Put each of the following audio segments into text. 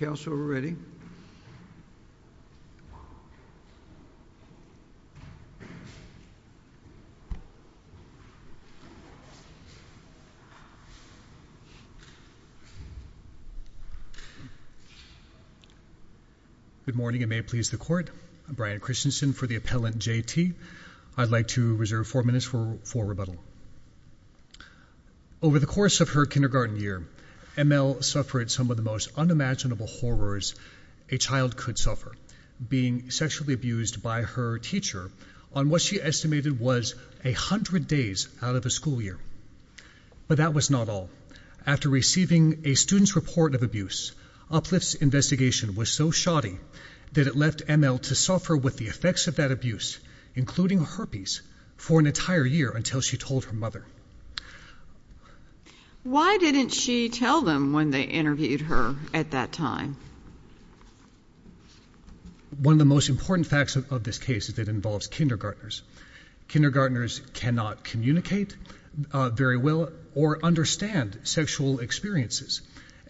In the morning and may it please the court, Brian Christensen for the appellant J.T. I'd like to reserve four minutes for rebuttal. Over the course of her kindergarten year, M.L. suffered some of the most unimaginable horrors a child could suffer, being sexually abused by her teacher on what she estimated was a hundred days out of a school year. But that was not all. After receiving a student's report of abuse, Uplift's investigation was so shoddy that it left M.L. to suffer with the effects of that abuse, including herpes, for an entire year until she told her mother. Why didn't she tell them when they interviewed her at that time? One of the most important facts of this case is that it involves kindergartners. Kindergarteners cannot communicate very well or understand sexual experiences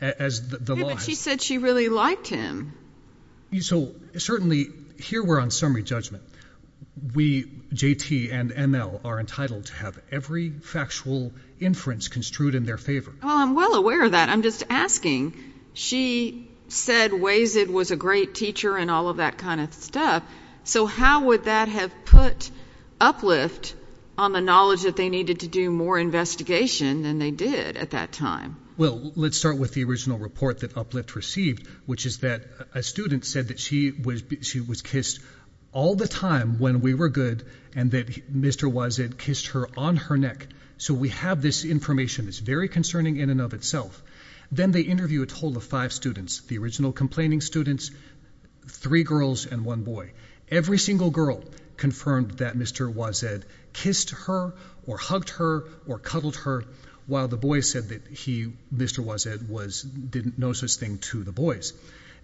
as the law has. But she said she really liked him. So certainly here we're on summary judgment. We, J.T. and M.L., are entitled to have every factual inference construed in their favor. Well, I'm well aware of that. I'm just asking. She said Wayzid was a great teacher and all of that kind of stuff. So how would that have put Uplift on the knowledge that they needed to do more investigation than they did at that time? Well, let's start with the original report that Uplift received, which is that a student said that she was kissed all the time when we were good and that Mr. Wayzid kissed her on her neck. So we have this information that's very concerning in and of itself. Then they interview a total of five students, the original complaining students, three girls and one boy. Every single girl confirmed that Mr. Wayzid kissed her or hugged her or cuddled her while the boy said that Mr. Wayzid didn't know such a thing to the boys.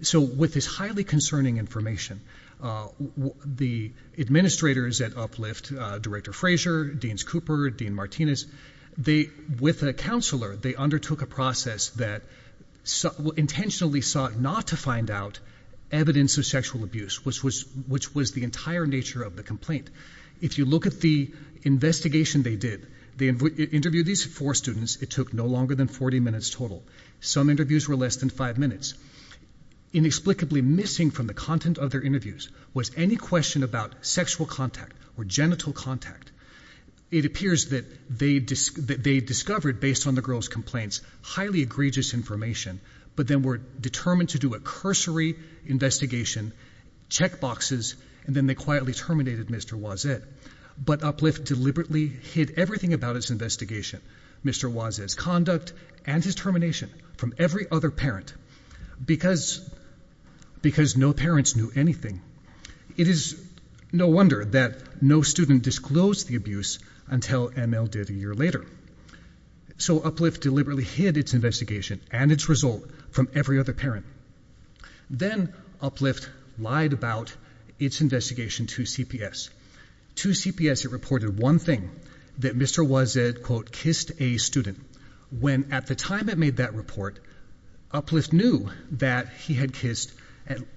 So with this highly concerning information, the administrators at Uplift, Director Frazier, Deans Cooper, Dean Martinez, with a counselor, they undertook a process that intentionally sought not to find out evidence of sexual abuse, which was the entire nature of the complaint. If you look at the investigation they did, they interviewed these four students. It took no longer than 40 minutes total. Some interviews were less than five minutes. Inexplicably missing from the content of their interviews was any question about sexual contact or genital contact. It appears that they discovered, based on the girls' complaints, highly egregious information, but then were determined to do a cursory investigation, check boxes, and then they quietly terminated Mr. Wayzid. But Uplift deliberately hid everything about its investigation. Mr. Wayzid's conduct and his termination from every other parent because no parents knew anything. It is no wonder that no student disclosed the abuse until ML did a year later. So Uplift deliberately hid its investigation and its result from every other parent. Then Uplift lied about its investigation to CPS. To CPS, it reported one thing, that Mr. Wayzid, quote, kissed a student. When at the time it made that report, Uplift knew that he had kissed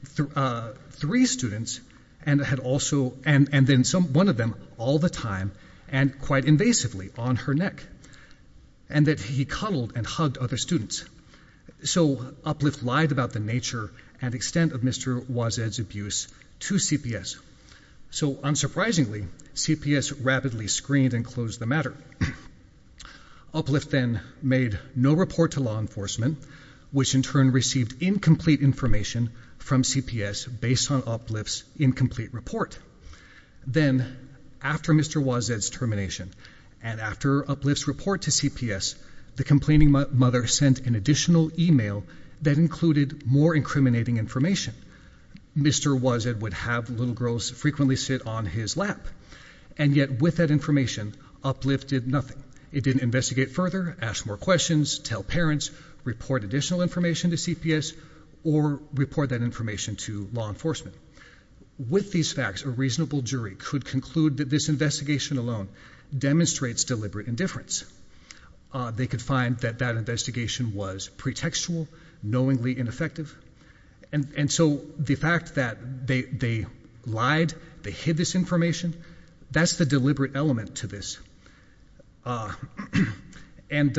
three students and had also, and then one of them, all the time and quite invasively on her neck. And that he cuddled and hugged other students. So Uplift lied about the nature and extent of Mr. Wayzid's abuse to CPS. So unsurprisingly, CPS rapidly screened and closed the matter. Uplift then made no report to law enforcement, which in turn received incomplete information from CPS based on Uplift's incomplete report. Then, after Mr. Wayzid's termination, and after Uplift's report to CPS, the complaining mother sent an additional email that included more incriminating information. Mr. Wayzid would have little girls frequently sit on his lap. And yet, with that information, Uplift did nothing. It didn't investigate further, ask more questions, tell parents, report additional information to CPS, or report that information to law enforcement. With these facts, a reasonable jury could conclude that this investigation alone demonstrates deliberate indifference. They could find that that investigation was pretextual, knowingly ineffective. And so, the fact that they lied, they hid this information, that's the deliberate element to this. And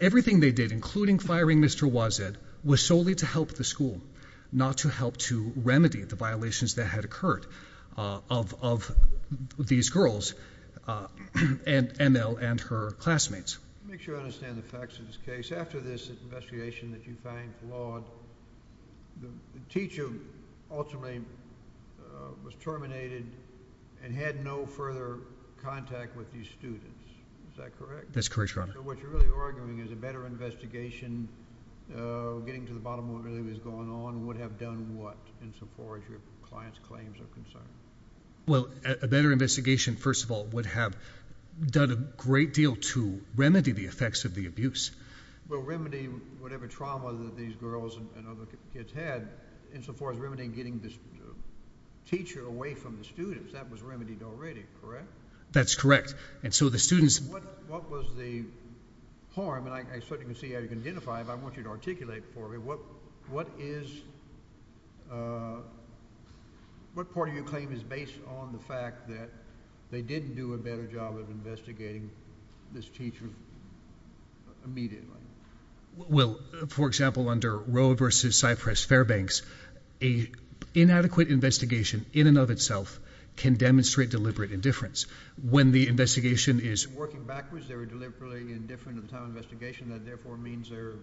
everything they did, including firing Mr. Wayzid, was solely to help the school, not to help to remedy the violations that had occurred of these girls and her classmates. Make sure I understand the facts of this case. After this investigation that you find flawed, the teacher ultimately was terminated and had no further contact with these students, is that correct? That's correct, Your Honor. So what you're really arguing is a better investigation, getting to the bottom of what really was going on, would have done what in support of your client's claims of concern? Well, a better investigation, first of all, would have done a great deal to remedy the effects of the abuse. Well, remedy whatever trauma that these girls and other kids had, in so far as remedying getting this teacher away from the students, that was remedied already, correct? That's correct. And so the students- What was the harm, and I expect you can see, I can identify, but I want you to articulate for me, what part of your claim is based on the fact that they didn't do a better job of investigating this teacher immediately? Well, for example, under Roe versus Cypress Fairbanks, an inadequate investigation in and of itself can demonstrate deliberate indifference. When the investigation is- Working backwards, they were deliberately indifferent at the time of the investigation. That therefore means they're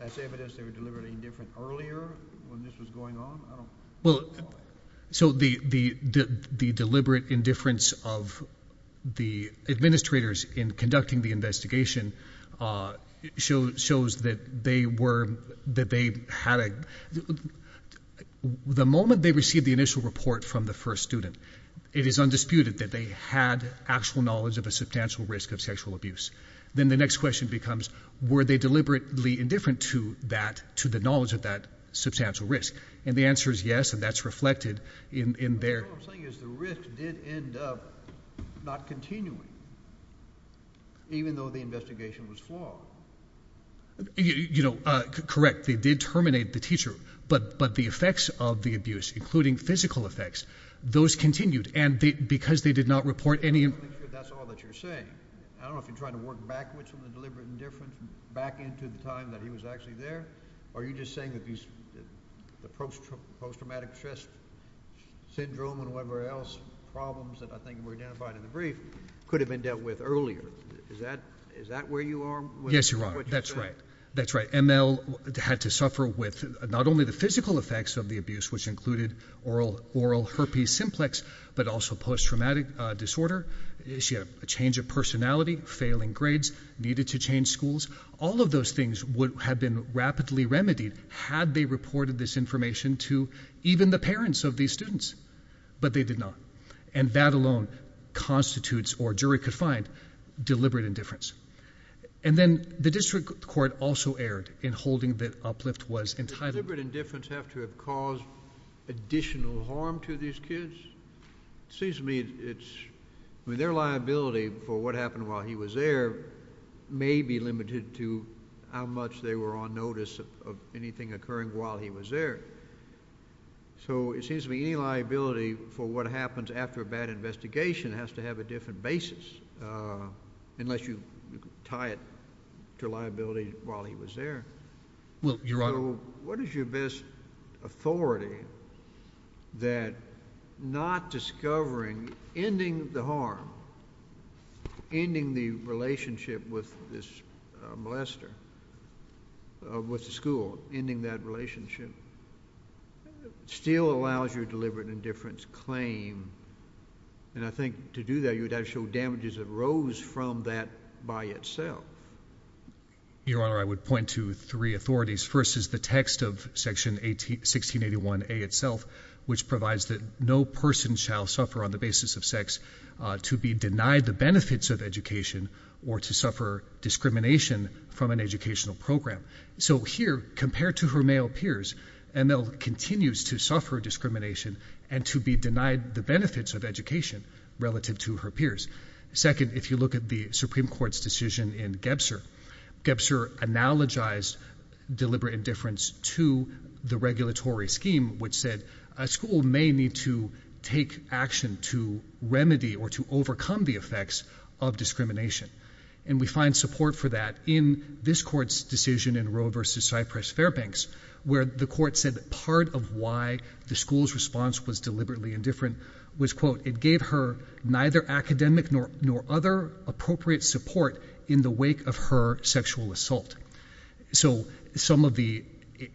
as evident as they were deliberately indifferent earlier, when this was going on? I don't know. Well, so the deliberate indifference of the administrators in conducting the investigation shows that they were, that they had a- The moment they received the initial report from the first student, it is undisputed that they had actual knowledge of a substantial risk of sexual abuse. Then the next question becomes, were they deliberately indifferent to that, to the knowledge of that substantial risk? And the answer is yes, and that's reflected in their- But what I'm saying is the risk did end up not continuing, even though the investigation was flawed. You know, correct. They did terminate the teacher, but the effects of the abuse, including physical effects, those continued. And because they did not report any- I'm not sure that's all that you're saying. I don't know if you're trying to work backwards from the deliberate indifference, back into the time that he was actually there, or are you just saying that the post-traumatic stress syndrome and whatever else, problems that I think were identified in the brief, could have been dealt with earlier? Is that where you are? Yes, Your Honor, that's right. That's right, ML had to suffer with not only the physical effects of the abuse, which included oral herpes simplex, but also post-traumatic disorder. She had a change of personality, failing grades, needed to change schools. All of those things would have been rapidly remedied had they reported this information to even the parents of these students. But they did not. And that alone constitutes, or a jury could find, deliberate indifference. And then the district court also erred in holding that Uplift was entitled- Does deliberate indifference have to have caused additional harm to these kids? It seems to me it's, I mean, their liability for what happened while he was there may be limited to how much they were on notice of anything occurring while he was there. So it seems to me any liability for what happens after a bad investigation has to have a different basis, unless you tie it to liability while he was there. Well, Your Honor- So what is your best authority that not discovering, ending the harm, ending the relationship with this molester, with the school, ending that relationship, still allows your deliberate indifference claim? And I think to do that, you would have to show damages arose from that by itself. Your Honor, I would point to three authorities. First is the text of section 1681A itself, which provides that no person shall suffer on the basis of sex to be denied the benefits of education or to suffer discrimination from an educational program. So here, compared to her male peers, ML continues to suffer discrimination and to be denied the benefits of education relative to her peers. Second, if you look at the Supreme Court's decision in Gebser, Gebser analogized deliberate indifference to the regulatory scheme, which said a school may need to take action to remedy or to overcome the effects of discrimination. And we find support for that in this court's decision in Roe versus Cypress-Fairbanks, where the court said that part of why the school's response was deliberately indifferent was, quote, it gave her neither academic nor other appropriate support in the wake of her sexual assault. So some of the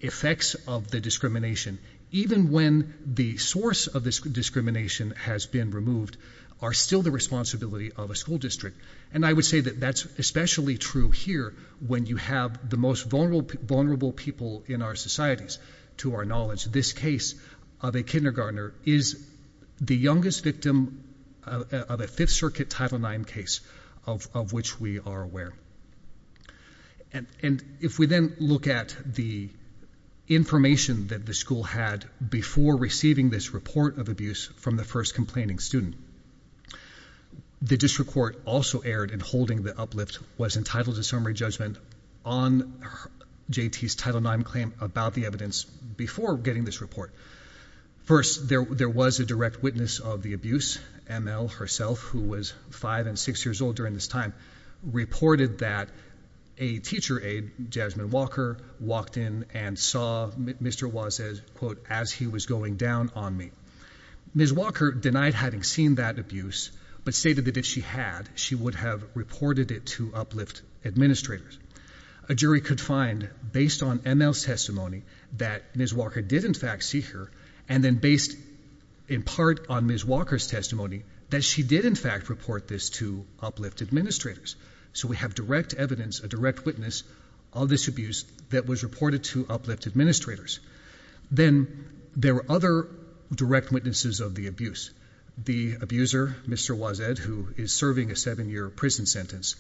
effects of the discrimination, even when the source of this discrimination has been removed, are still the responsibility of a school district. And I would say that that's especially true here when you have the most vulnerable people in our societies. To our knowledge, this case of a kindergartner is the youngest victim of a Fifth Circuit Title IX case of which we are aware. And if we then look at the information that the school had before receiving this report of abuse from the first complaining student, the district court also erred in holding the uplift was entitled to summary judgment on JT's Title IX claim about the evidence before getting this report. First, there was a direct witness of the abuse, ML herself, who was five and six years old during this time, reported that a teacher aide, Jasmine Walker, walked in and saw Mr. Waz, quote, as he was going down on me. Ms. Walker denied having seen that abuse, but stated that if she had, she would have reported it to uplift administrators. A jury could find, based on ML's testimony, that Ms. Walker did in fact see her. And then based in part on Ms. Walker's testimony, that she did in fact report this to uplift administrators. So we have direct evidence, a direct witness of this abuse that was reported to uplift administrators. Then there were other direct witnesses of the abuse. The abuser, Mr. Wazed, who is serving a seven year prison sentence,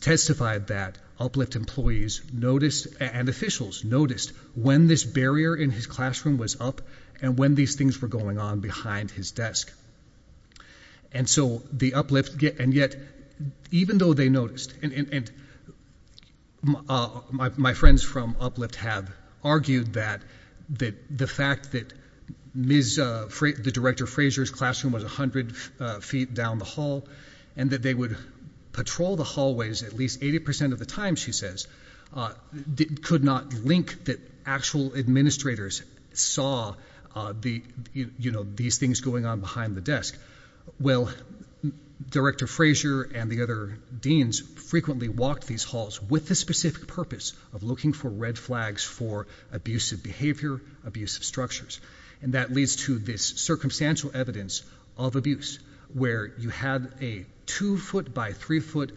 testified that uplift employees noticed, and officials noticed, when this barrier in his classroom was up and when these things were going on behind his desk. And so the uplift, and yet, even though they noticed, and my friends from uplift have argued that the fact that the director Fraser's classroom was 100 feet down the hall, and that they would patrol the hallways at least 80% of the time, she says, could not link that actual administrators saw these things going on behind the desk. Well, Director Frazier and the other deans frequently walked these halls with the specific purpose of looking for red flags for abusive behavior, abusive structures. And that leads to this circumstantial evidence of abuse, where you have a two foot by three foot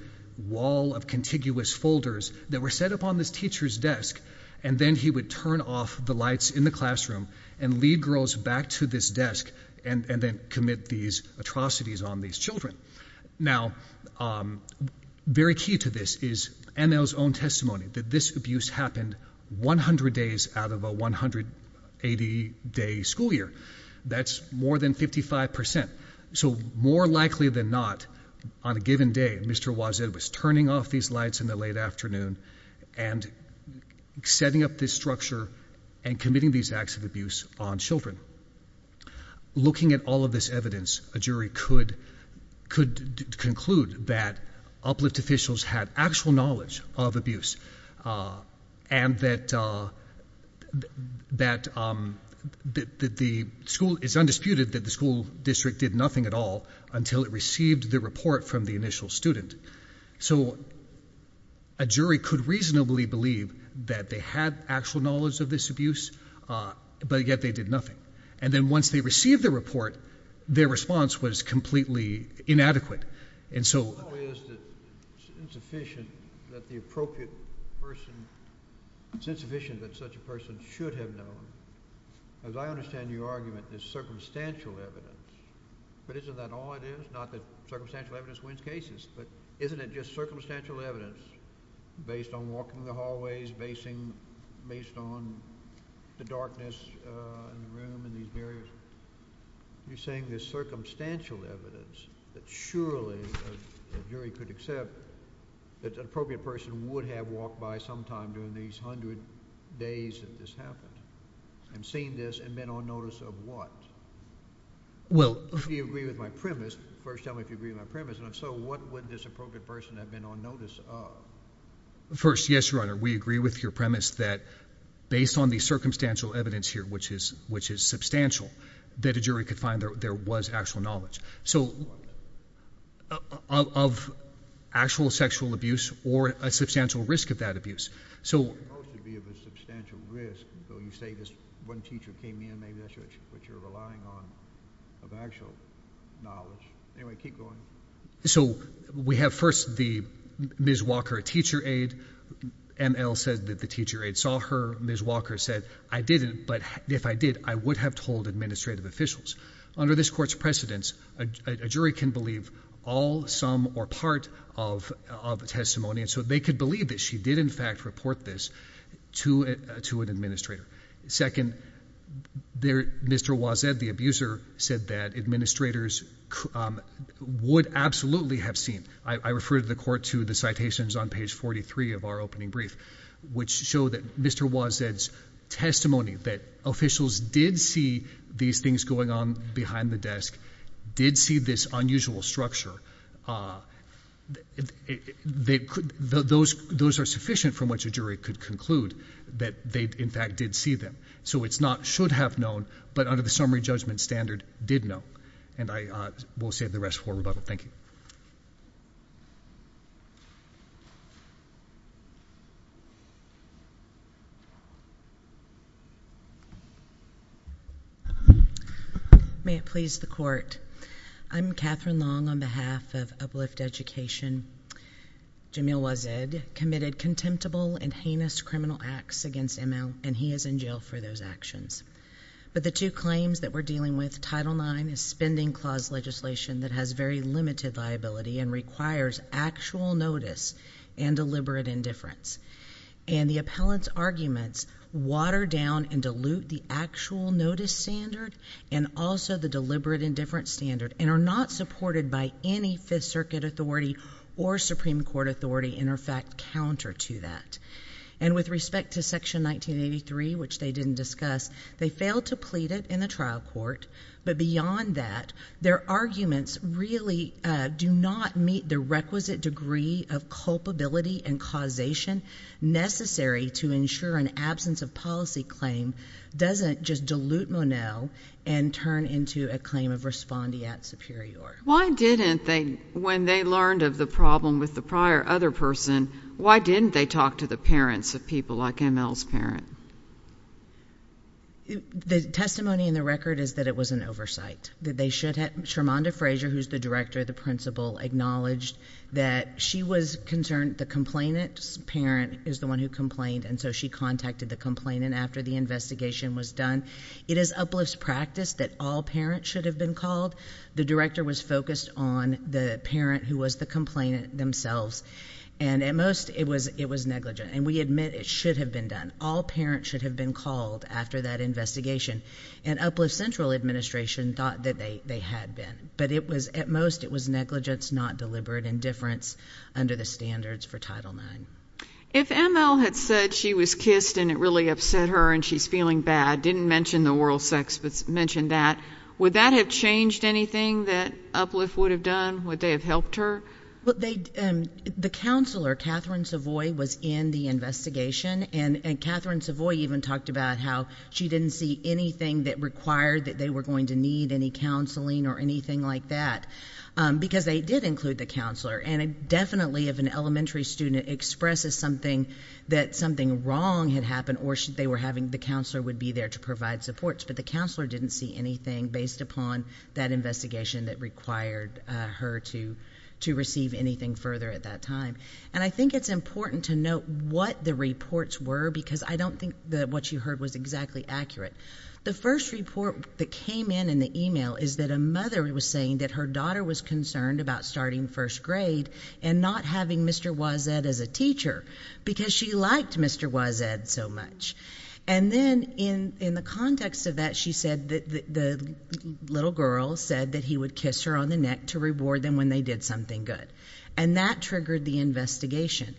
wall of contiguous folders that were set up on this teacher's desk. And then he would turn off the lights in the classroom and lead girls back to this desk, and then commit these atrocities on these children. Now, very key to this is NL's own testimony, that this abuse happened 100 days out of a 180 day school year. That's more than 55%. So more likely than not, on a given day, Mr. Wazir was turning off these lights in the late afternoon and setting up this structure and committing these acts of abuse on children. Looking at all of this evidence, a jury could conclude that uplift officials had actual knowledge of abuse. And that the school is undisputed that the school district did nothing at all until it received the report from the initial student. So a jury could reasonably believe that they had actual knowledge of this abuse, but yet they did nothing. And then once they received the report, their response was completely inadequate. And so- It's insufficient that the appropriate person, it's insufficient that such a person should have known. As I understand your argument, there's circumstantial evidence, but isn't that all it is? Not that circumstantial evidence wins cases, but isn't it just circumstantial evidence based on walking the hallways, based on the darkness in the room and these barriers? You're saying there's circumstantial evidence that surely a jury could accept that an appropriate person would have walked by sometime during these 100 days that this happened. And seen this and been on notice of what? Well- If you agree with my premise, first tell me if you agree with my premise. So what would this appropriate person have been on notice of? First, yes, your honor, we agree with your premise that based on the circumstantial evidence here, which is substantial, that a jury could find there was actual knowledge. So of actual sexual abuse or a substantial risk of that abuse. So- Most would be of a substantial risk, so you say this one teacher came in, maybe that's what you're relying on, of actual knowledge. Anyway, keep going. So we have first the Ms. Walker, a teacher aide, ML said that the teacher aide saw her. Ms. Walker said, I didn't, but if I did, I would have told administrative officials. Under this court's precedence, a jury can believe all, some, or part of a testimony. And so they could believe that she did, in fact, report this to an administrator. Second, Mr. Wazed, the abuser, said that administrators would absolutely have seen. I refer to the court to the citations on page 43 of our opening brief, which show that Mr. Wazed's testimony that officials did see these things going on behind the desk, did see this unusual structure. Those are sufficient from which a jury could conclude that they, in fact, did see them. So it's not should have known, but under the summary judgment standard, did know. And I will save the rest for rebuttal. Thank you. May it please the court. I'm Catherine Long on behalf of Uplift Education. Jamil Wazed committed contemptible and heinous criminal acts against ML, and he is in jail for those actions. But the two claims that we're dealing with, Title IX is spending clause legislation that has very limited liability and requires actual notice and deliberate indifference. And the appellant's arguments water down and dilute the actual notice standard and also the deliberate indifference standard, and are not supported by any Fifth Circuit authority or Supreme Court authority, in effect, counter to that. And with respect to section 1983, which they didn't discuss, they failed to plead it in the trial court. But beyond that, their arguments really do not meet the requisite degree of culpability and causation necessary to ensure an absence of policy claim doesn't just dilute Monell and turn into a claim of respondeat superior. Why didn't they, when they learned of the problem with the prior other person, why didn't they talk to the parents of people like ML's parent? The testimony in the record is that it was an oversight, that they should have. Sharmonda Frazier, who's the director, the principal, acknowledged that she was concerned the complainant's parent is the one who complained. And so she contacted the complainant after the investigation was done. It is Uplift's practice that all parents should have been called. The director was focused on the parent who was the complainant themselves. And at most, it was negligent. And we admit it should have been done. All parents should have been called after that investigation. And Uplift Central Administration thought that they had been. But at most, it was negligence, not deliberate indifference under the standards for Title IX. If ML had said she was kissed and it really upset her and she's feeling bad, didn't mention the oral sex, but mentioned that, would that have changed anything that Uplift would have done? Would they have helped her? The counselor, Catherine Savoy, was in the investigation. And Catherine Savoy even talked about how she didn't see anything that required that they were going to need any counseling or anything like that, because they did include the counselor. And definitely, if an elementary student expresses something, that something wrong had happened, or they were having the counselor would be there to provide supports. But the counselor didn't see anything based upon that investigation that required her to receive anything further at that time. And I think it's important to note what the reports were, because I don't think that what you heard was exactly accurate. The first report that came in in the email is that a mother was saying that her daughter was concerned about starting first grade. And not having Mr. Waz-Ed as a teacher, because she liked Mr. Waz-Ed so much. And then in the context of that, she said that the little girl said that he would kiss her on the neck to reward them when they did something good. And that triggered the investigation.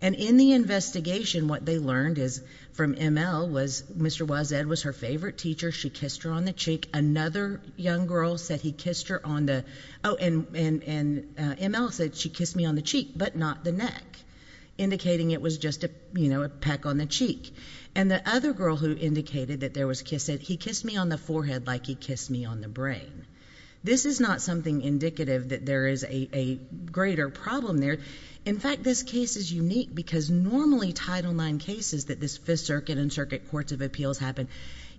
And in the investigation, what they learned is from ML was Mr. Waz-Ed was her favorite teacher. She kissed her on the cheek. Another young girl said he kissed her on the, and ML said she kissed me on the cheek, but not the neck. Indicating it was just a peck on the cheek. And the other girl who indicated that there was kissing, he kissed me on the forehead like he kissed me on the brain. This is not something indicative that there is a greater problem there. In fact, this case is unique because normally Title IX cases that this Fifth Circuit and Circuit Courts of Appeals happen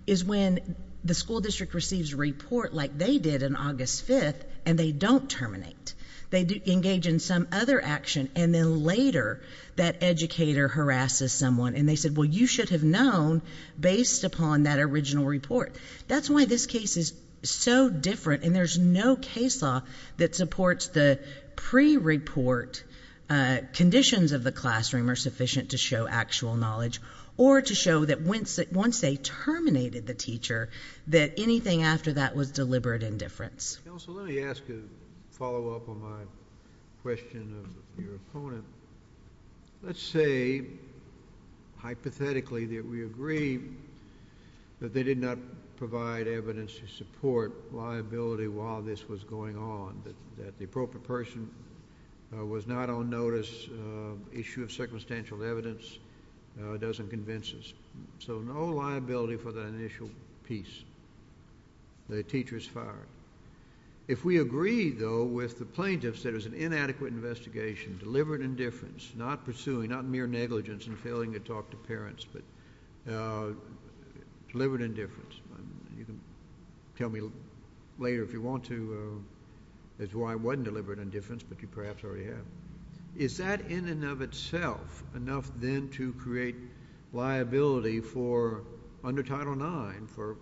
is when the school district receives a report like they did on August 5th, and they don't terminate. They engage in some other action, and then later that educator harasses someone. And they said, well, you should have known based upon that original report. That's why this case is so different. And there's no case law that supports the pre-report conditions of the classroom are sufficient to show actual knowledge. Or to show that once they terminated the teacher, that anything after that was deliberate indifference. Counsel, let me ask a follow up on my question of your opponent. Let's say, hypothetically, that we agree that they did not provide evidence to support liability while this was going on. That the appropriate person was not on notice, issue of circumstantial evidence, doesn't convince us. So no liability for the initial piece, the teacher is fired. If we agree, though, with the plaintiffs that it was an inadequate investigation, deliberate indifference, not pursuing, not mere negligence in failing to talk to parents, but deliberate indifference. You can tell me later if you want to as to why it wasn't deliberate indifference, but you perhaps already have. Is that in and of itself enough then to create liability for under Title IX for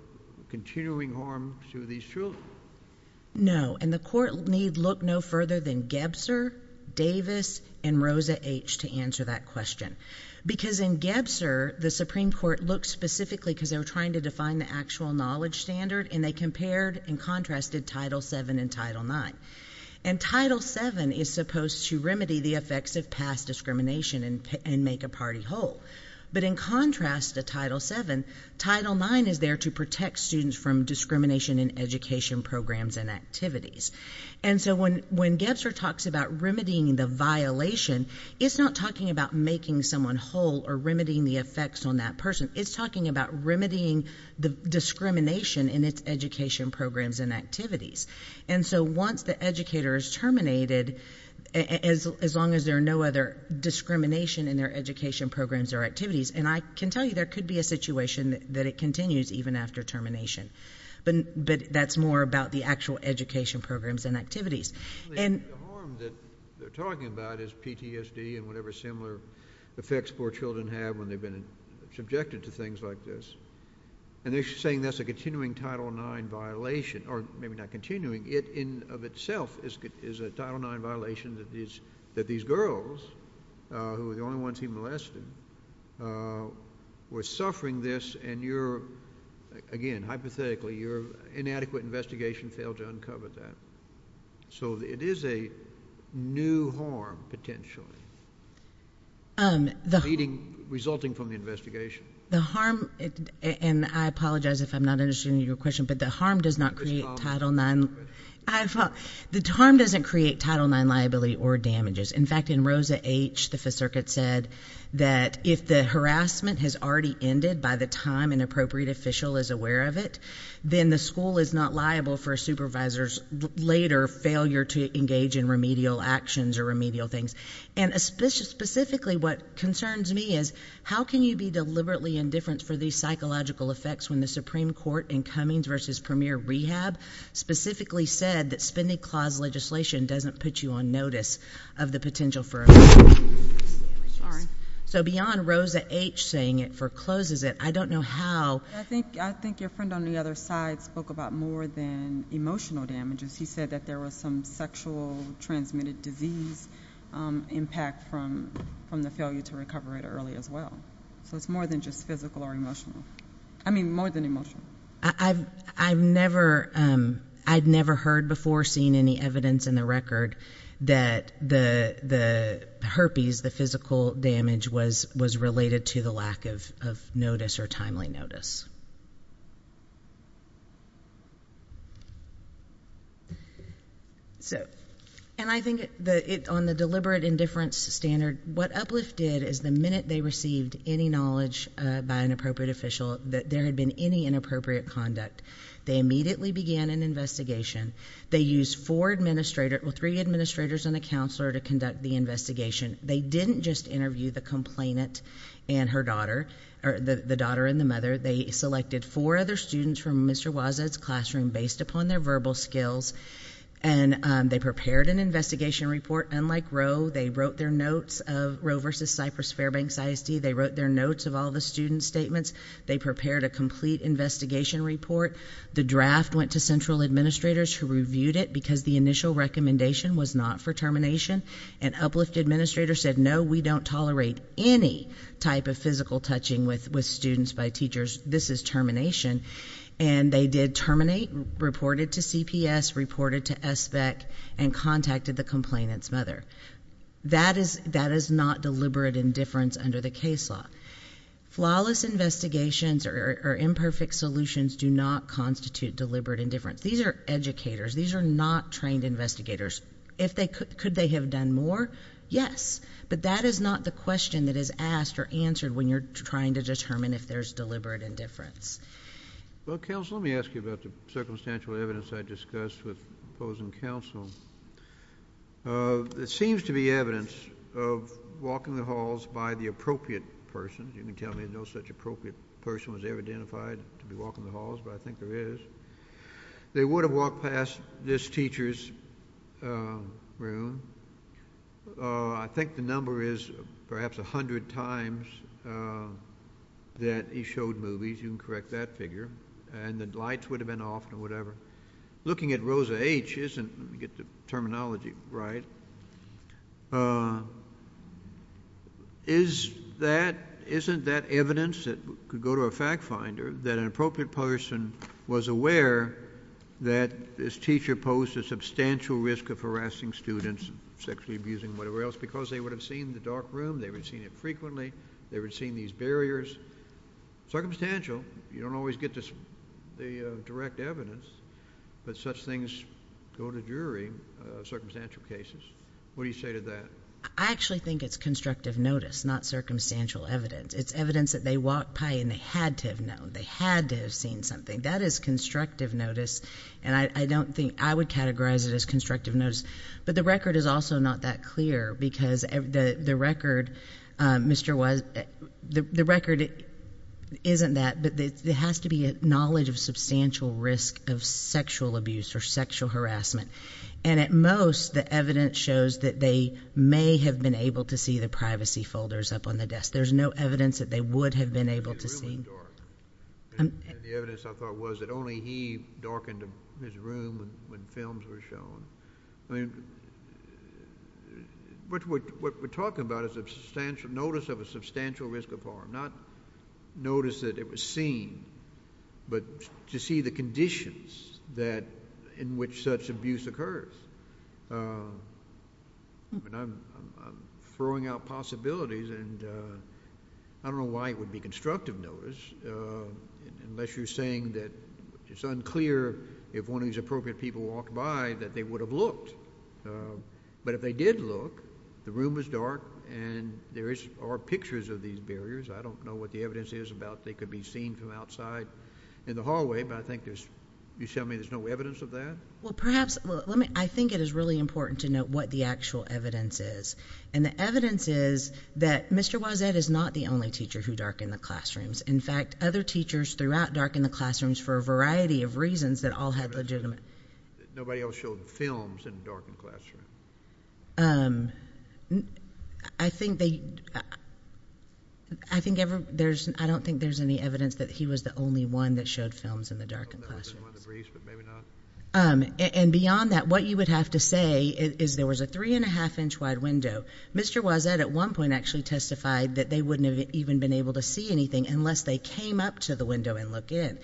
continuing harm to these children? No, and the court need look no further than Gebser, Davis, and Rosa H to answer that question. Because in Gebser, the Supreme Court looked specifically because they were trying to define the actual knowledge standard and they compared and contrasted Title VII and Title IX. And Title VII is supposed to remedy the effects of past discrimination and make a party whole. But in contrast to Title VII, Title IX is there to protect students from discrimination in education programs and activities. And so when Gebser talks about remedying the violation, it's not talking about making someone whole or remedying the effects on that person. It's talking about remedying the discrimination in its education programs and activities. And so once the educator is terminated, as long as there are no other discrimination in their education programs or activities. And I can tell you there could be a situation that it continues even after termination. But that's more about the actual education programs and activities. And- The harm that they're talking about is PTSD and whatever similar effects poor children have when they've been subjected to things like this. And they're saying that's a continuing Title IX violation, or maybe not continuing, it in of itself is a Title IX violation that these girls, who were the only ones he molested, were suffering this. And you're, again, hypothetically, your inadequate investigation failed to uncover that. So it is a new harm, potentially, resulting from the investigation. The harm, and I apologize if I'm not answering your question, but the harm does not create Title IX. The harm doesn't create Title IX liability or damages. In fact, in Rosa H, the circuit said that if the harassment has already ended by the time an appropriate official is aware of it, then the school is not liable for a supervisor's later failure to engage in remedial actions or remedial things. And specifically, what concerns me is, how can you be deliberately indifferent for these psychological effects when the Supreme Court in Cummings versus Premier Rehab, specifically said that spending clause legislation doesn't put you on notice of the potential for- Sorry. So beyond Rosa H saying it forecloses it, I don't know how- I think your friend on the other side spoke about more than emotional damages. He said that there was some sexual transmitted disease impact from the failure to recover it early as well. So it's more than just physical or emotional. I mean, more than emotional. I've never heard before, seen any evidence in the record, that the herpes, the physical damage, was related to the lack of notice or timely notice. So, and I think on the deliberate indifference standard, what Uplift did is the minute they received any knowledge by an appropriate official, that there had been any inappropriate conduct, they immediately began an investigation. They used four administrators, three administrators and a counselor to conduct the investigation. They didn't just interview the complainant and her daughter, or the daughter and the mother. They selected four other students from Mr. Wazad's classroom based upon their verbal skills. And they prepared an investigation report. Unlike Roe, they wrote their notes of Roe versus Cypress Fairbanks ISD. They wrote their notes of all the student's statements. They prepared a complete investigation report. The draft went to central administrators who reviewed it because the initial recommendation was not for termination. And Uplift administrators said, no, we don't tolerate any type of physical touching with students by teachers. This is termination. And they did terminate, reported to CPS, reported to SBEC, and contacted the complainant's mother. That is not deliberate indifference under the case law. Flawless investigations or imperfect solutions do not constitute deliberate indifference. These are educators. These are not trained investigators. If they could, could they have done more? Yes, but that is not the question that is asked or answered when you're trying to determine if there's deliberate indifference. Well, counsel, let me ask you about the circumstantial evidence I discussed with opposing counsel. It seems to be evidence of walking the halls by the appropriate person. You can tell me no such appropriate person was ever identified to be walking the halls, but I think there is. They would have walked past this teacher's room. I think the number is perhaps 100 times that he showed movies. You can correct that figure. And the lights would have been off or whatever. Looking at Rosa H, isn't, let me get the terminology right. Is that, isn't that evidence that could go to a fact finder that an appropriate person was aware that this teacher posed a substantial risk of harassing students, sexually abusing, whatever else, because they would have seen the dark room. They would have seen it frequently. They would have seen these barriers. Circumstantial, you don't always get the direct evidence, but such things go to jury, circumstantial cases. What do you say to that? I actually think it's constructive notice, not circumstantial evidence. It's evidence that they walked by and they had to have known. They had to have seen something. That is constructive notice, and I don't think, I would categorize it as constructive notice. But the record is also not that clear, because the record, Mr. Unknown And the evidence I thought was that only he darkened his room when films were shown. I mean, what we're talking about is a substantial, notice of a substantial risk of harm. Not notice that it was seen, but to see the conditions that in which such abuse occurs. I mean, I'm throwing out possibilities and I don't know why it would be constructive notice unless you're saying that it's unclear if one of these appropriate people walked by that they would have looked. But if they did look, the room was dark and there are pictures of these barriers. I don't know what the evidence is about. They could be seen from outside in the hallway, but I think there's you show me there's no evidence of that. Well, perhaps. Well, let me. I think it is really important to note what the actual evidence is. And the evidence is that Mr. Was that is not the only teacher who dark in the classrooms. In fact, other teachers throughout dark in the classrooms for a variety of reasons that all had legitimate. Nobody else showed films and darkened classroom. I think they I think there's I don't think there's any evidence that he was the only one that showed films in the dark and beyond that, what you would have to say is there was a three and a half inch wide window. Mr. Was that at one point actually testified that they wouldn't have even been able to see anything unless they came up to the window and look in.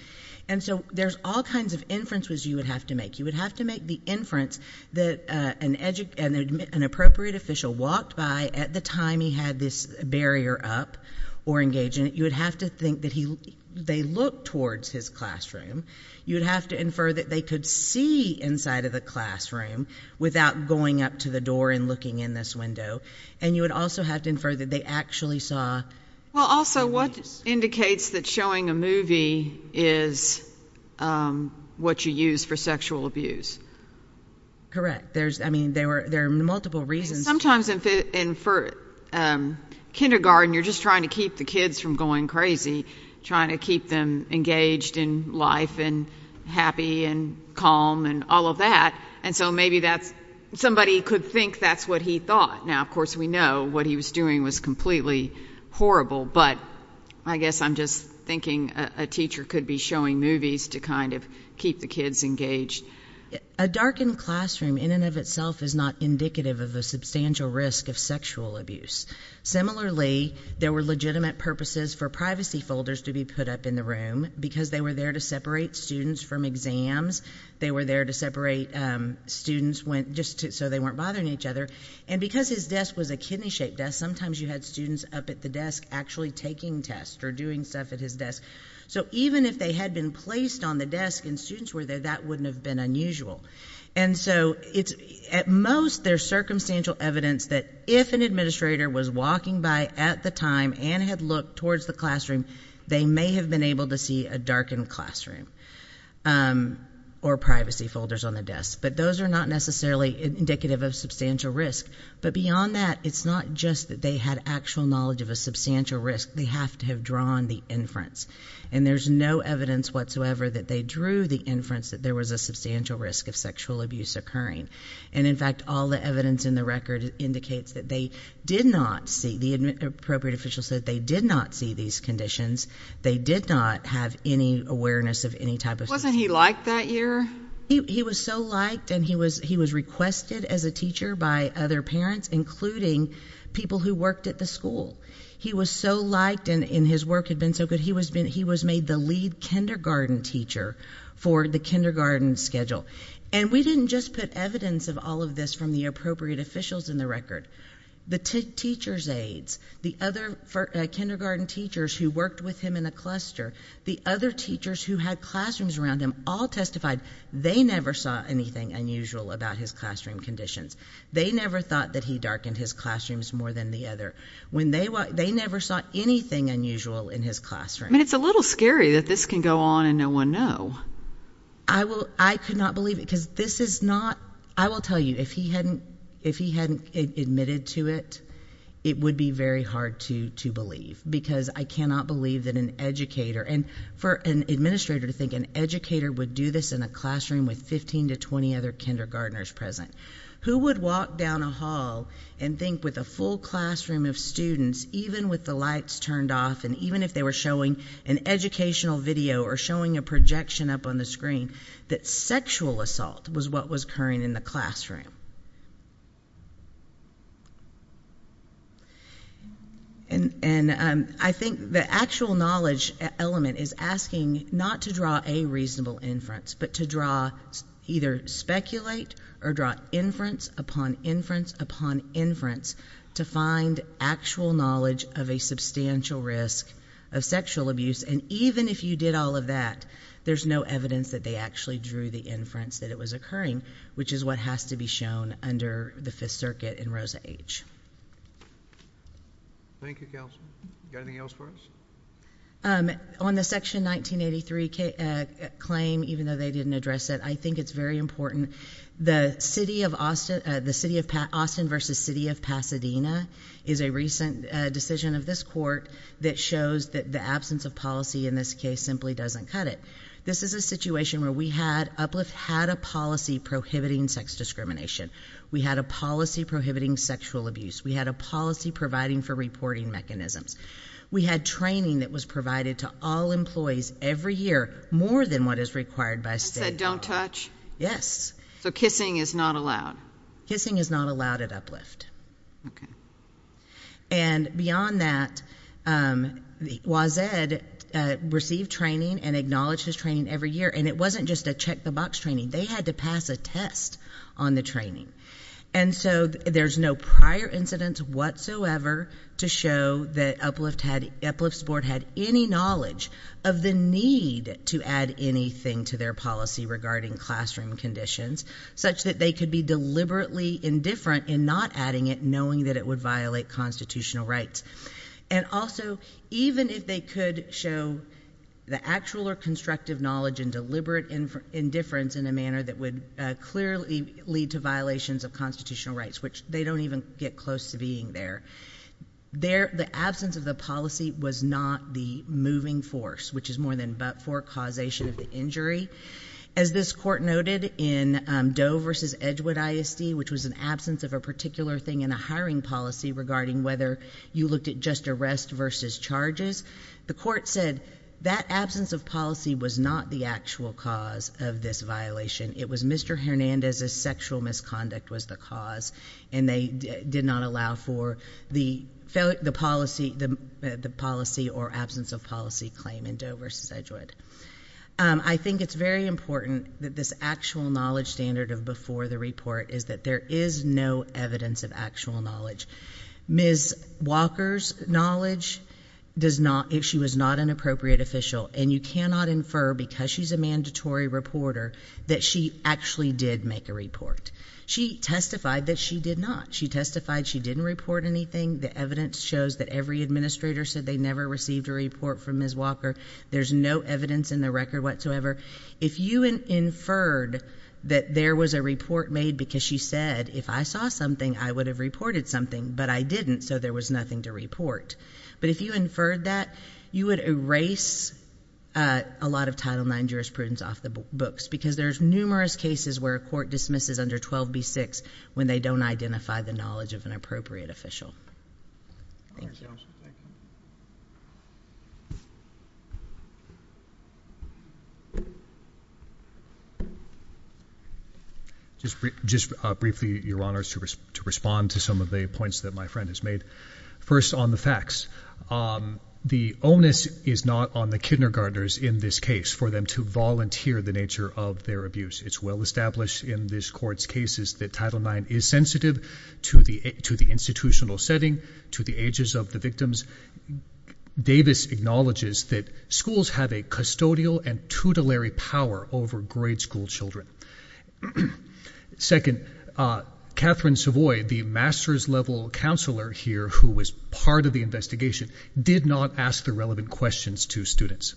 And so there's all kinds of inferences you would have to make. You would have to make the inference that an edu and an appropriate official walked by at the time he had this barrier up or engage in it. You would have to think that he they look towards his classroom. You would have to infer that they could see inside of the classroom without going up to the door and looking in this window. And you would also have to infer that they actually saw. Well, also, what indicates that showing a movie is what you use for sexual abuse? Correct. There's I mean, there are there are multiple reasons sometimes in for kindergarten, you're just trying to keep the kids from going crazy, trying to keep them engaged in life and happy and calm and all of that. And so maybe that's somebody could think that's what he thought. Now, of course, we know what he was doing was completely horrible. But I guess I'm just thinking a teacher could be showing movies to kind of keep the kids engaged. A darkened classroom in and of itself is not indicative of a substantial risk of sexual abuse. Similarly, there were legitimate purposes for privacy folders to be put up in the room because they were there to separate students from exams. They were there to separate students went just so they weren't bothering each other. And because his desk was a kidney shaped desk, sometimes you had students up at the desk actually taking tests or doing stuff at his desk. So even if they had been placed on the desk and students were there, that wouldn't have been unusual. And so it's at most there's circumstantial evidence that if an administrator was walking by at the time and had looked towards the classroom, they may have been able to see a darkened classroom or privacy folders on the desk. But those are not necessarily indicative of substantial risk. But beyond that, it's not just that they had actual knowledge of a substantial risk. They have to have drawn the inference. And there's no evidence whatsoever that they drew the inference that there was a substantial risk of sexual abuse occurring. And in fact, all the evidence in the record indicates that they did not see the appropriate officials that they did not see these conditions. They did not have any awareness of any type of wasn't he like that year? He was so liked and he was he was requested as a teacher by other parents, including people who worked at the school. He was so liked and in his work had been so good. He was been he was made the lead kindergarten teacher for the kindergarten schedule. And we didn't just put evidence of all of this from the appropriate officials in the record. The teacher's aides, the other kindergarten teachers who worked with him in a the other teachers who had classrooms around him all testified they never saw anything unusual about his classroom conditions. They never thought that he darkened his classrooms more than the other when they were. They never saw anything unusual in his classroom. And it's a little scary that this can go on and no one know. I will. I could not believe it because this is not I will tell you, if he hadn't if he hadn't admitted to it, it would be very hard to to believe because I cannot believe that an educator and for an administrator to think an educator would do this in a classroom with 15 to 20 other kindergartners present who would walk down a hall and think with a full classroom of students, even with the lights turned off and even if they were showing an educational video or showing a projection up on the screen, that sexual assault was what was occurring in the classroom. And I think the actual knowledge element is asking not to draw a reasonable inference, but to draw either speculate or draw inference upon inference upon inference to find actual knowledge of a substantial risk of sexual abuse. And even if you did all of that, there's no evidence that they actually drew the inference that it was occurring, which is what has to be shown under the Fifth Circuit in Rosa H. Thank you, counsel. Got anything else for us? On the Section 1983 claim, even though they didn't address it, I think it's very important. The city of Austin, the city of Austin versus city of Pasadena, is a recent decision of this court that shows that the absence of policy in this case simply doesn't cut it. This is a situation where we had Uplift had a policy prohibiting sex discrimination. We had a policy prohibiting sexual abuse. We had a policy providing for reporting mechanisms. We had training that was provided to all employees every year, more than what is required by state law. Don't touch? Yes. So kissing is not allowed? Kissing is not allowed at Uplift. OK. And beyond that, Wazed received training and acknowledged his training every year. And it wasn't just a check the box training. They had to pass a test on the training. And so there's no prior incidents whatsoever to show that Uplift had Uplift's board had any knowledge of the need to add anything to their policy regarding classroom conditions such that they could be deliberately indifferent in not adding it, knowing that it would violate constitutional rights. And also, even if they could show the actual or constructive knowledge and deliberate indifference in a manner that would clearly lead to violations of constitutional rights, which they don't even get close to being there, the absence of the policy was not the moving force, which is more than but for causation of the injury. As this court noted in Doe versus Edgewood ISD, which was an absence of a particular thing in a hiring policy regarding whether you looked at just arrest versus charges, the court said that absence of policy was not the actual cause of this violation. It was Mr. Hernandez's sexual misconduct was the cause, and they did not allow for the policy or absence of policy claim in Doe versus Edgewood. I think it's very important that this actual knowledge standard of before the report is that there is no evidence of actual knowledge. Ms. Walker's knowledge, if she was not an appropriate official, and you cannot infer because she's a mandatory reporter that she actually did make a report. She testified that she did not. She testified she didn't report anything. The evidence shows that every administrator said they never received a report from Ms. Walker. There's no evidence in the record whatsoever. If you inferred that there was a report made because she said, if I saw something, I would have reported something, but I didn't, so there was nothing to report. But if you inferred that, you would erase a lot of Title IX jurisprudence off the books because there's numerous cases where a court dismisses under 12b6 when they don't identify the knowledge of an appropriate official. Thank you. Thank you. Just briefly, Your Honors, to respond to some of the points that my friend has made. First, on the facts. The onus is not on the kindergartners in this case for them to volunteer the nature of their abuse. It's well established in this court's cases that Title IX is sensitive to the institutional setting, to the ages of the victims. Davis acknowledges that schools have a custodial and tutelary power over grade school children. Second, Catherine Savoy, the master's level counselor here who was part of the investigation, did not ask the relevant questions to students.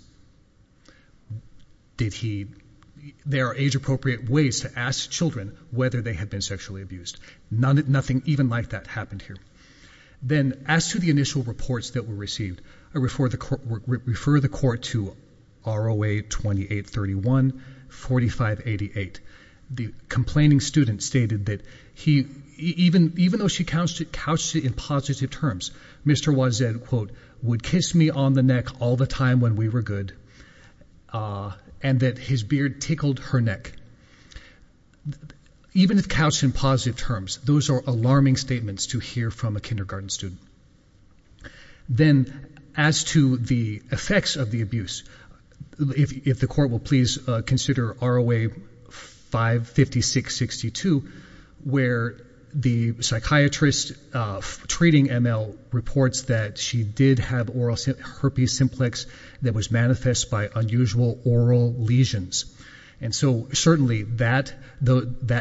There are age-appropriate ways to ask children whether they have been sexually abused. Nothing even like that happened here. Then, as to the initial reports that were received, I refer the court to ROA 2831, 4588. The complaining student stated that even though she couched it in positive terms, Mr. Wozzeck, quote, would kiss me on the neck all the time when we were good, and that his beard tickled her neck. Even if couched in positive terms, those are alarming statements to hear from a kindergarten student. Then, as to the effects of the abuse, if the court will please consider ROA 55662, where the psychiatrist treating ML reports that she did have herpes simplex that was manifest by unusual oral lesions. And so, certainly, that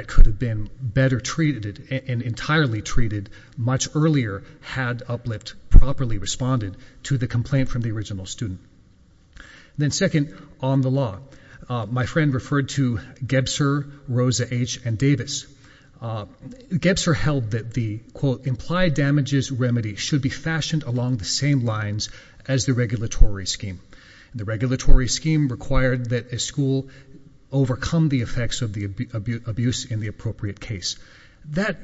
could have been better treated and entirely treated much earlier had Uplift properly responded to the complaint from the original student. Then, second, on the law, my friend referred to Gebser, Rosa H., and Davis. Gebser held that the, quote, implied damages remedy should be fashioned along the same lines as the regulatory scheme. The regulatory scheme required that a school overcome the effects of the abuse in the appropriate case. That,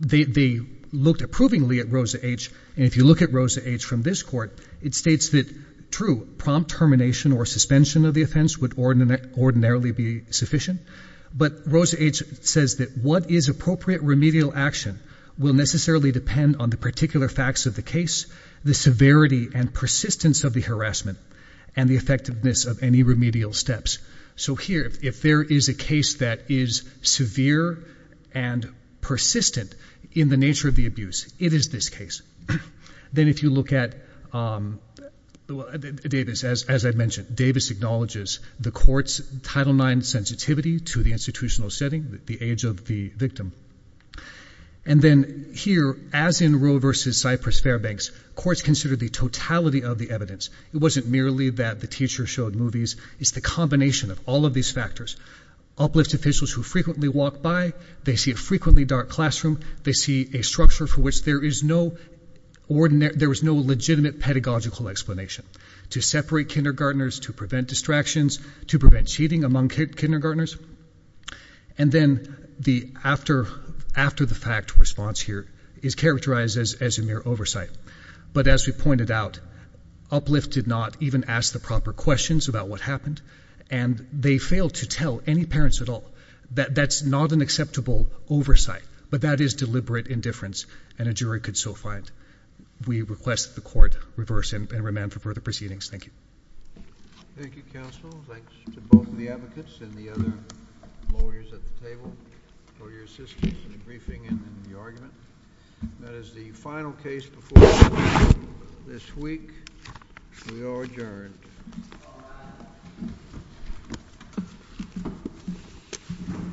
they looked approvingly at Rosa H., and if you look at Rosa H. from this court, it states that, true, prompt termination or suspension of the offense would ordinarily be sufficient. But Rosa H. says that what is appropriate remedial action will necessarily depend on the particular facts of the case, the severity and persistence of the harassment, and the effectiveness of any remedial steps. So here, if there is a case that is severe and persistent in the nature of the abuse, it is this case. Then if you look at Davis, as I mentioned, Davis acknowledges the court's Title IX sensitivity to the institutional setting, the age of the victim. And then here, as in Roe versus Cypress-Fairbanks, courts consider the totality of the evidence. It wasn't merely that the teacher showed movies, it's the combination of all of these factors. Uplift officials who frequently walk by, they see a frequently dark classroom, they see a structure for which there is no legitimate pedagogical explanation. To separate kindergartners, to prevent distractions, to prevent cheating among kindergartners. And then the after-the-fact response here is characterized as a mere oversight. But as we pointed out, Uplift did not even ask the proper questions about what happened, and they failed to tell any parents at all that that's not an acceptable oversight. But that is deliberate indifference, and a jury could so find. We request that the court reverse and remand for further proceedings. Thank you. Thank you, counsel. Thanks to both of the advocates and the other lawyers at the table for your assistance in the briefing and in the argument. That is the final case before us this week. We are adjourned.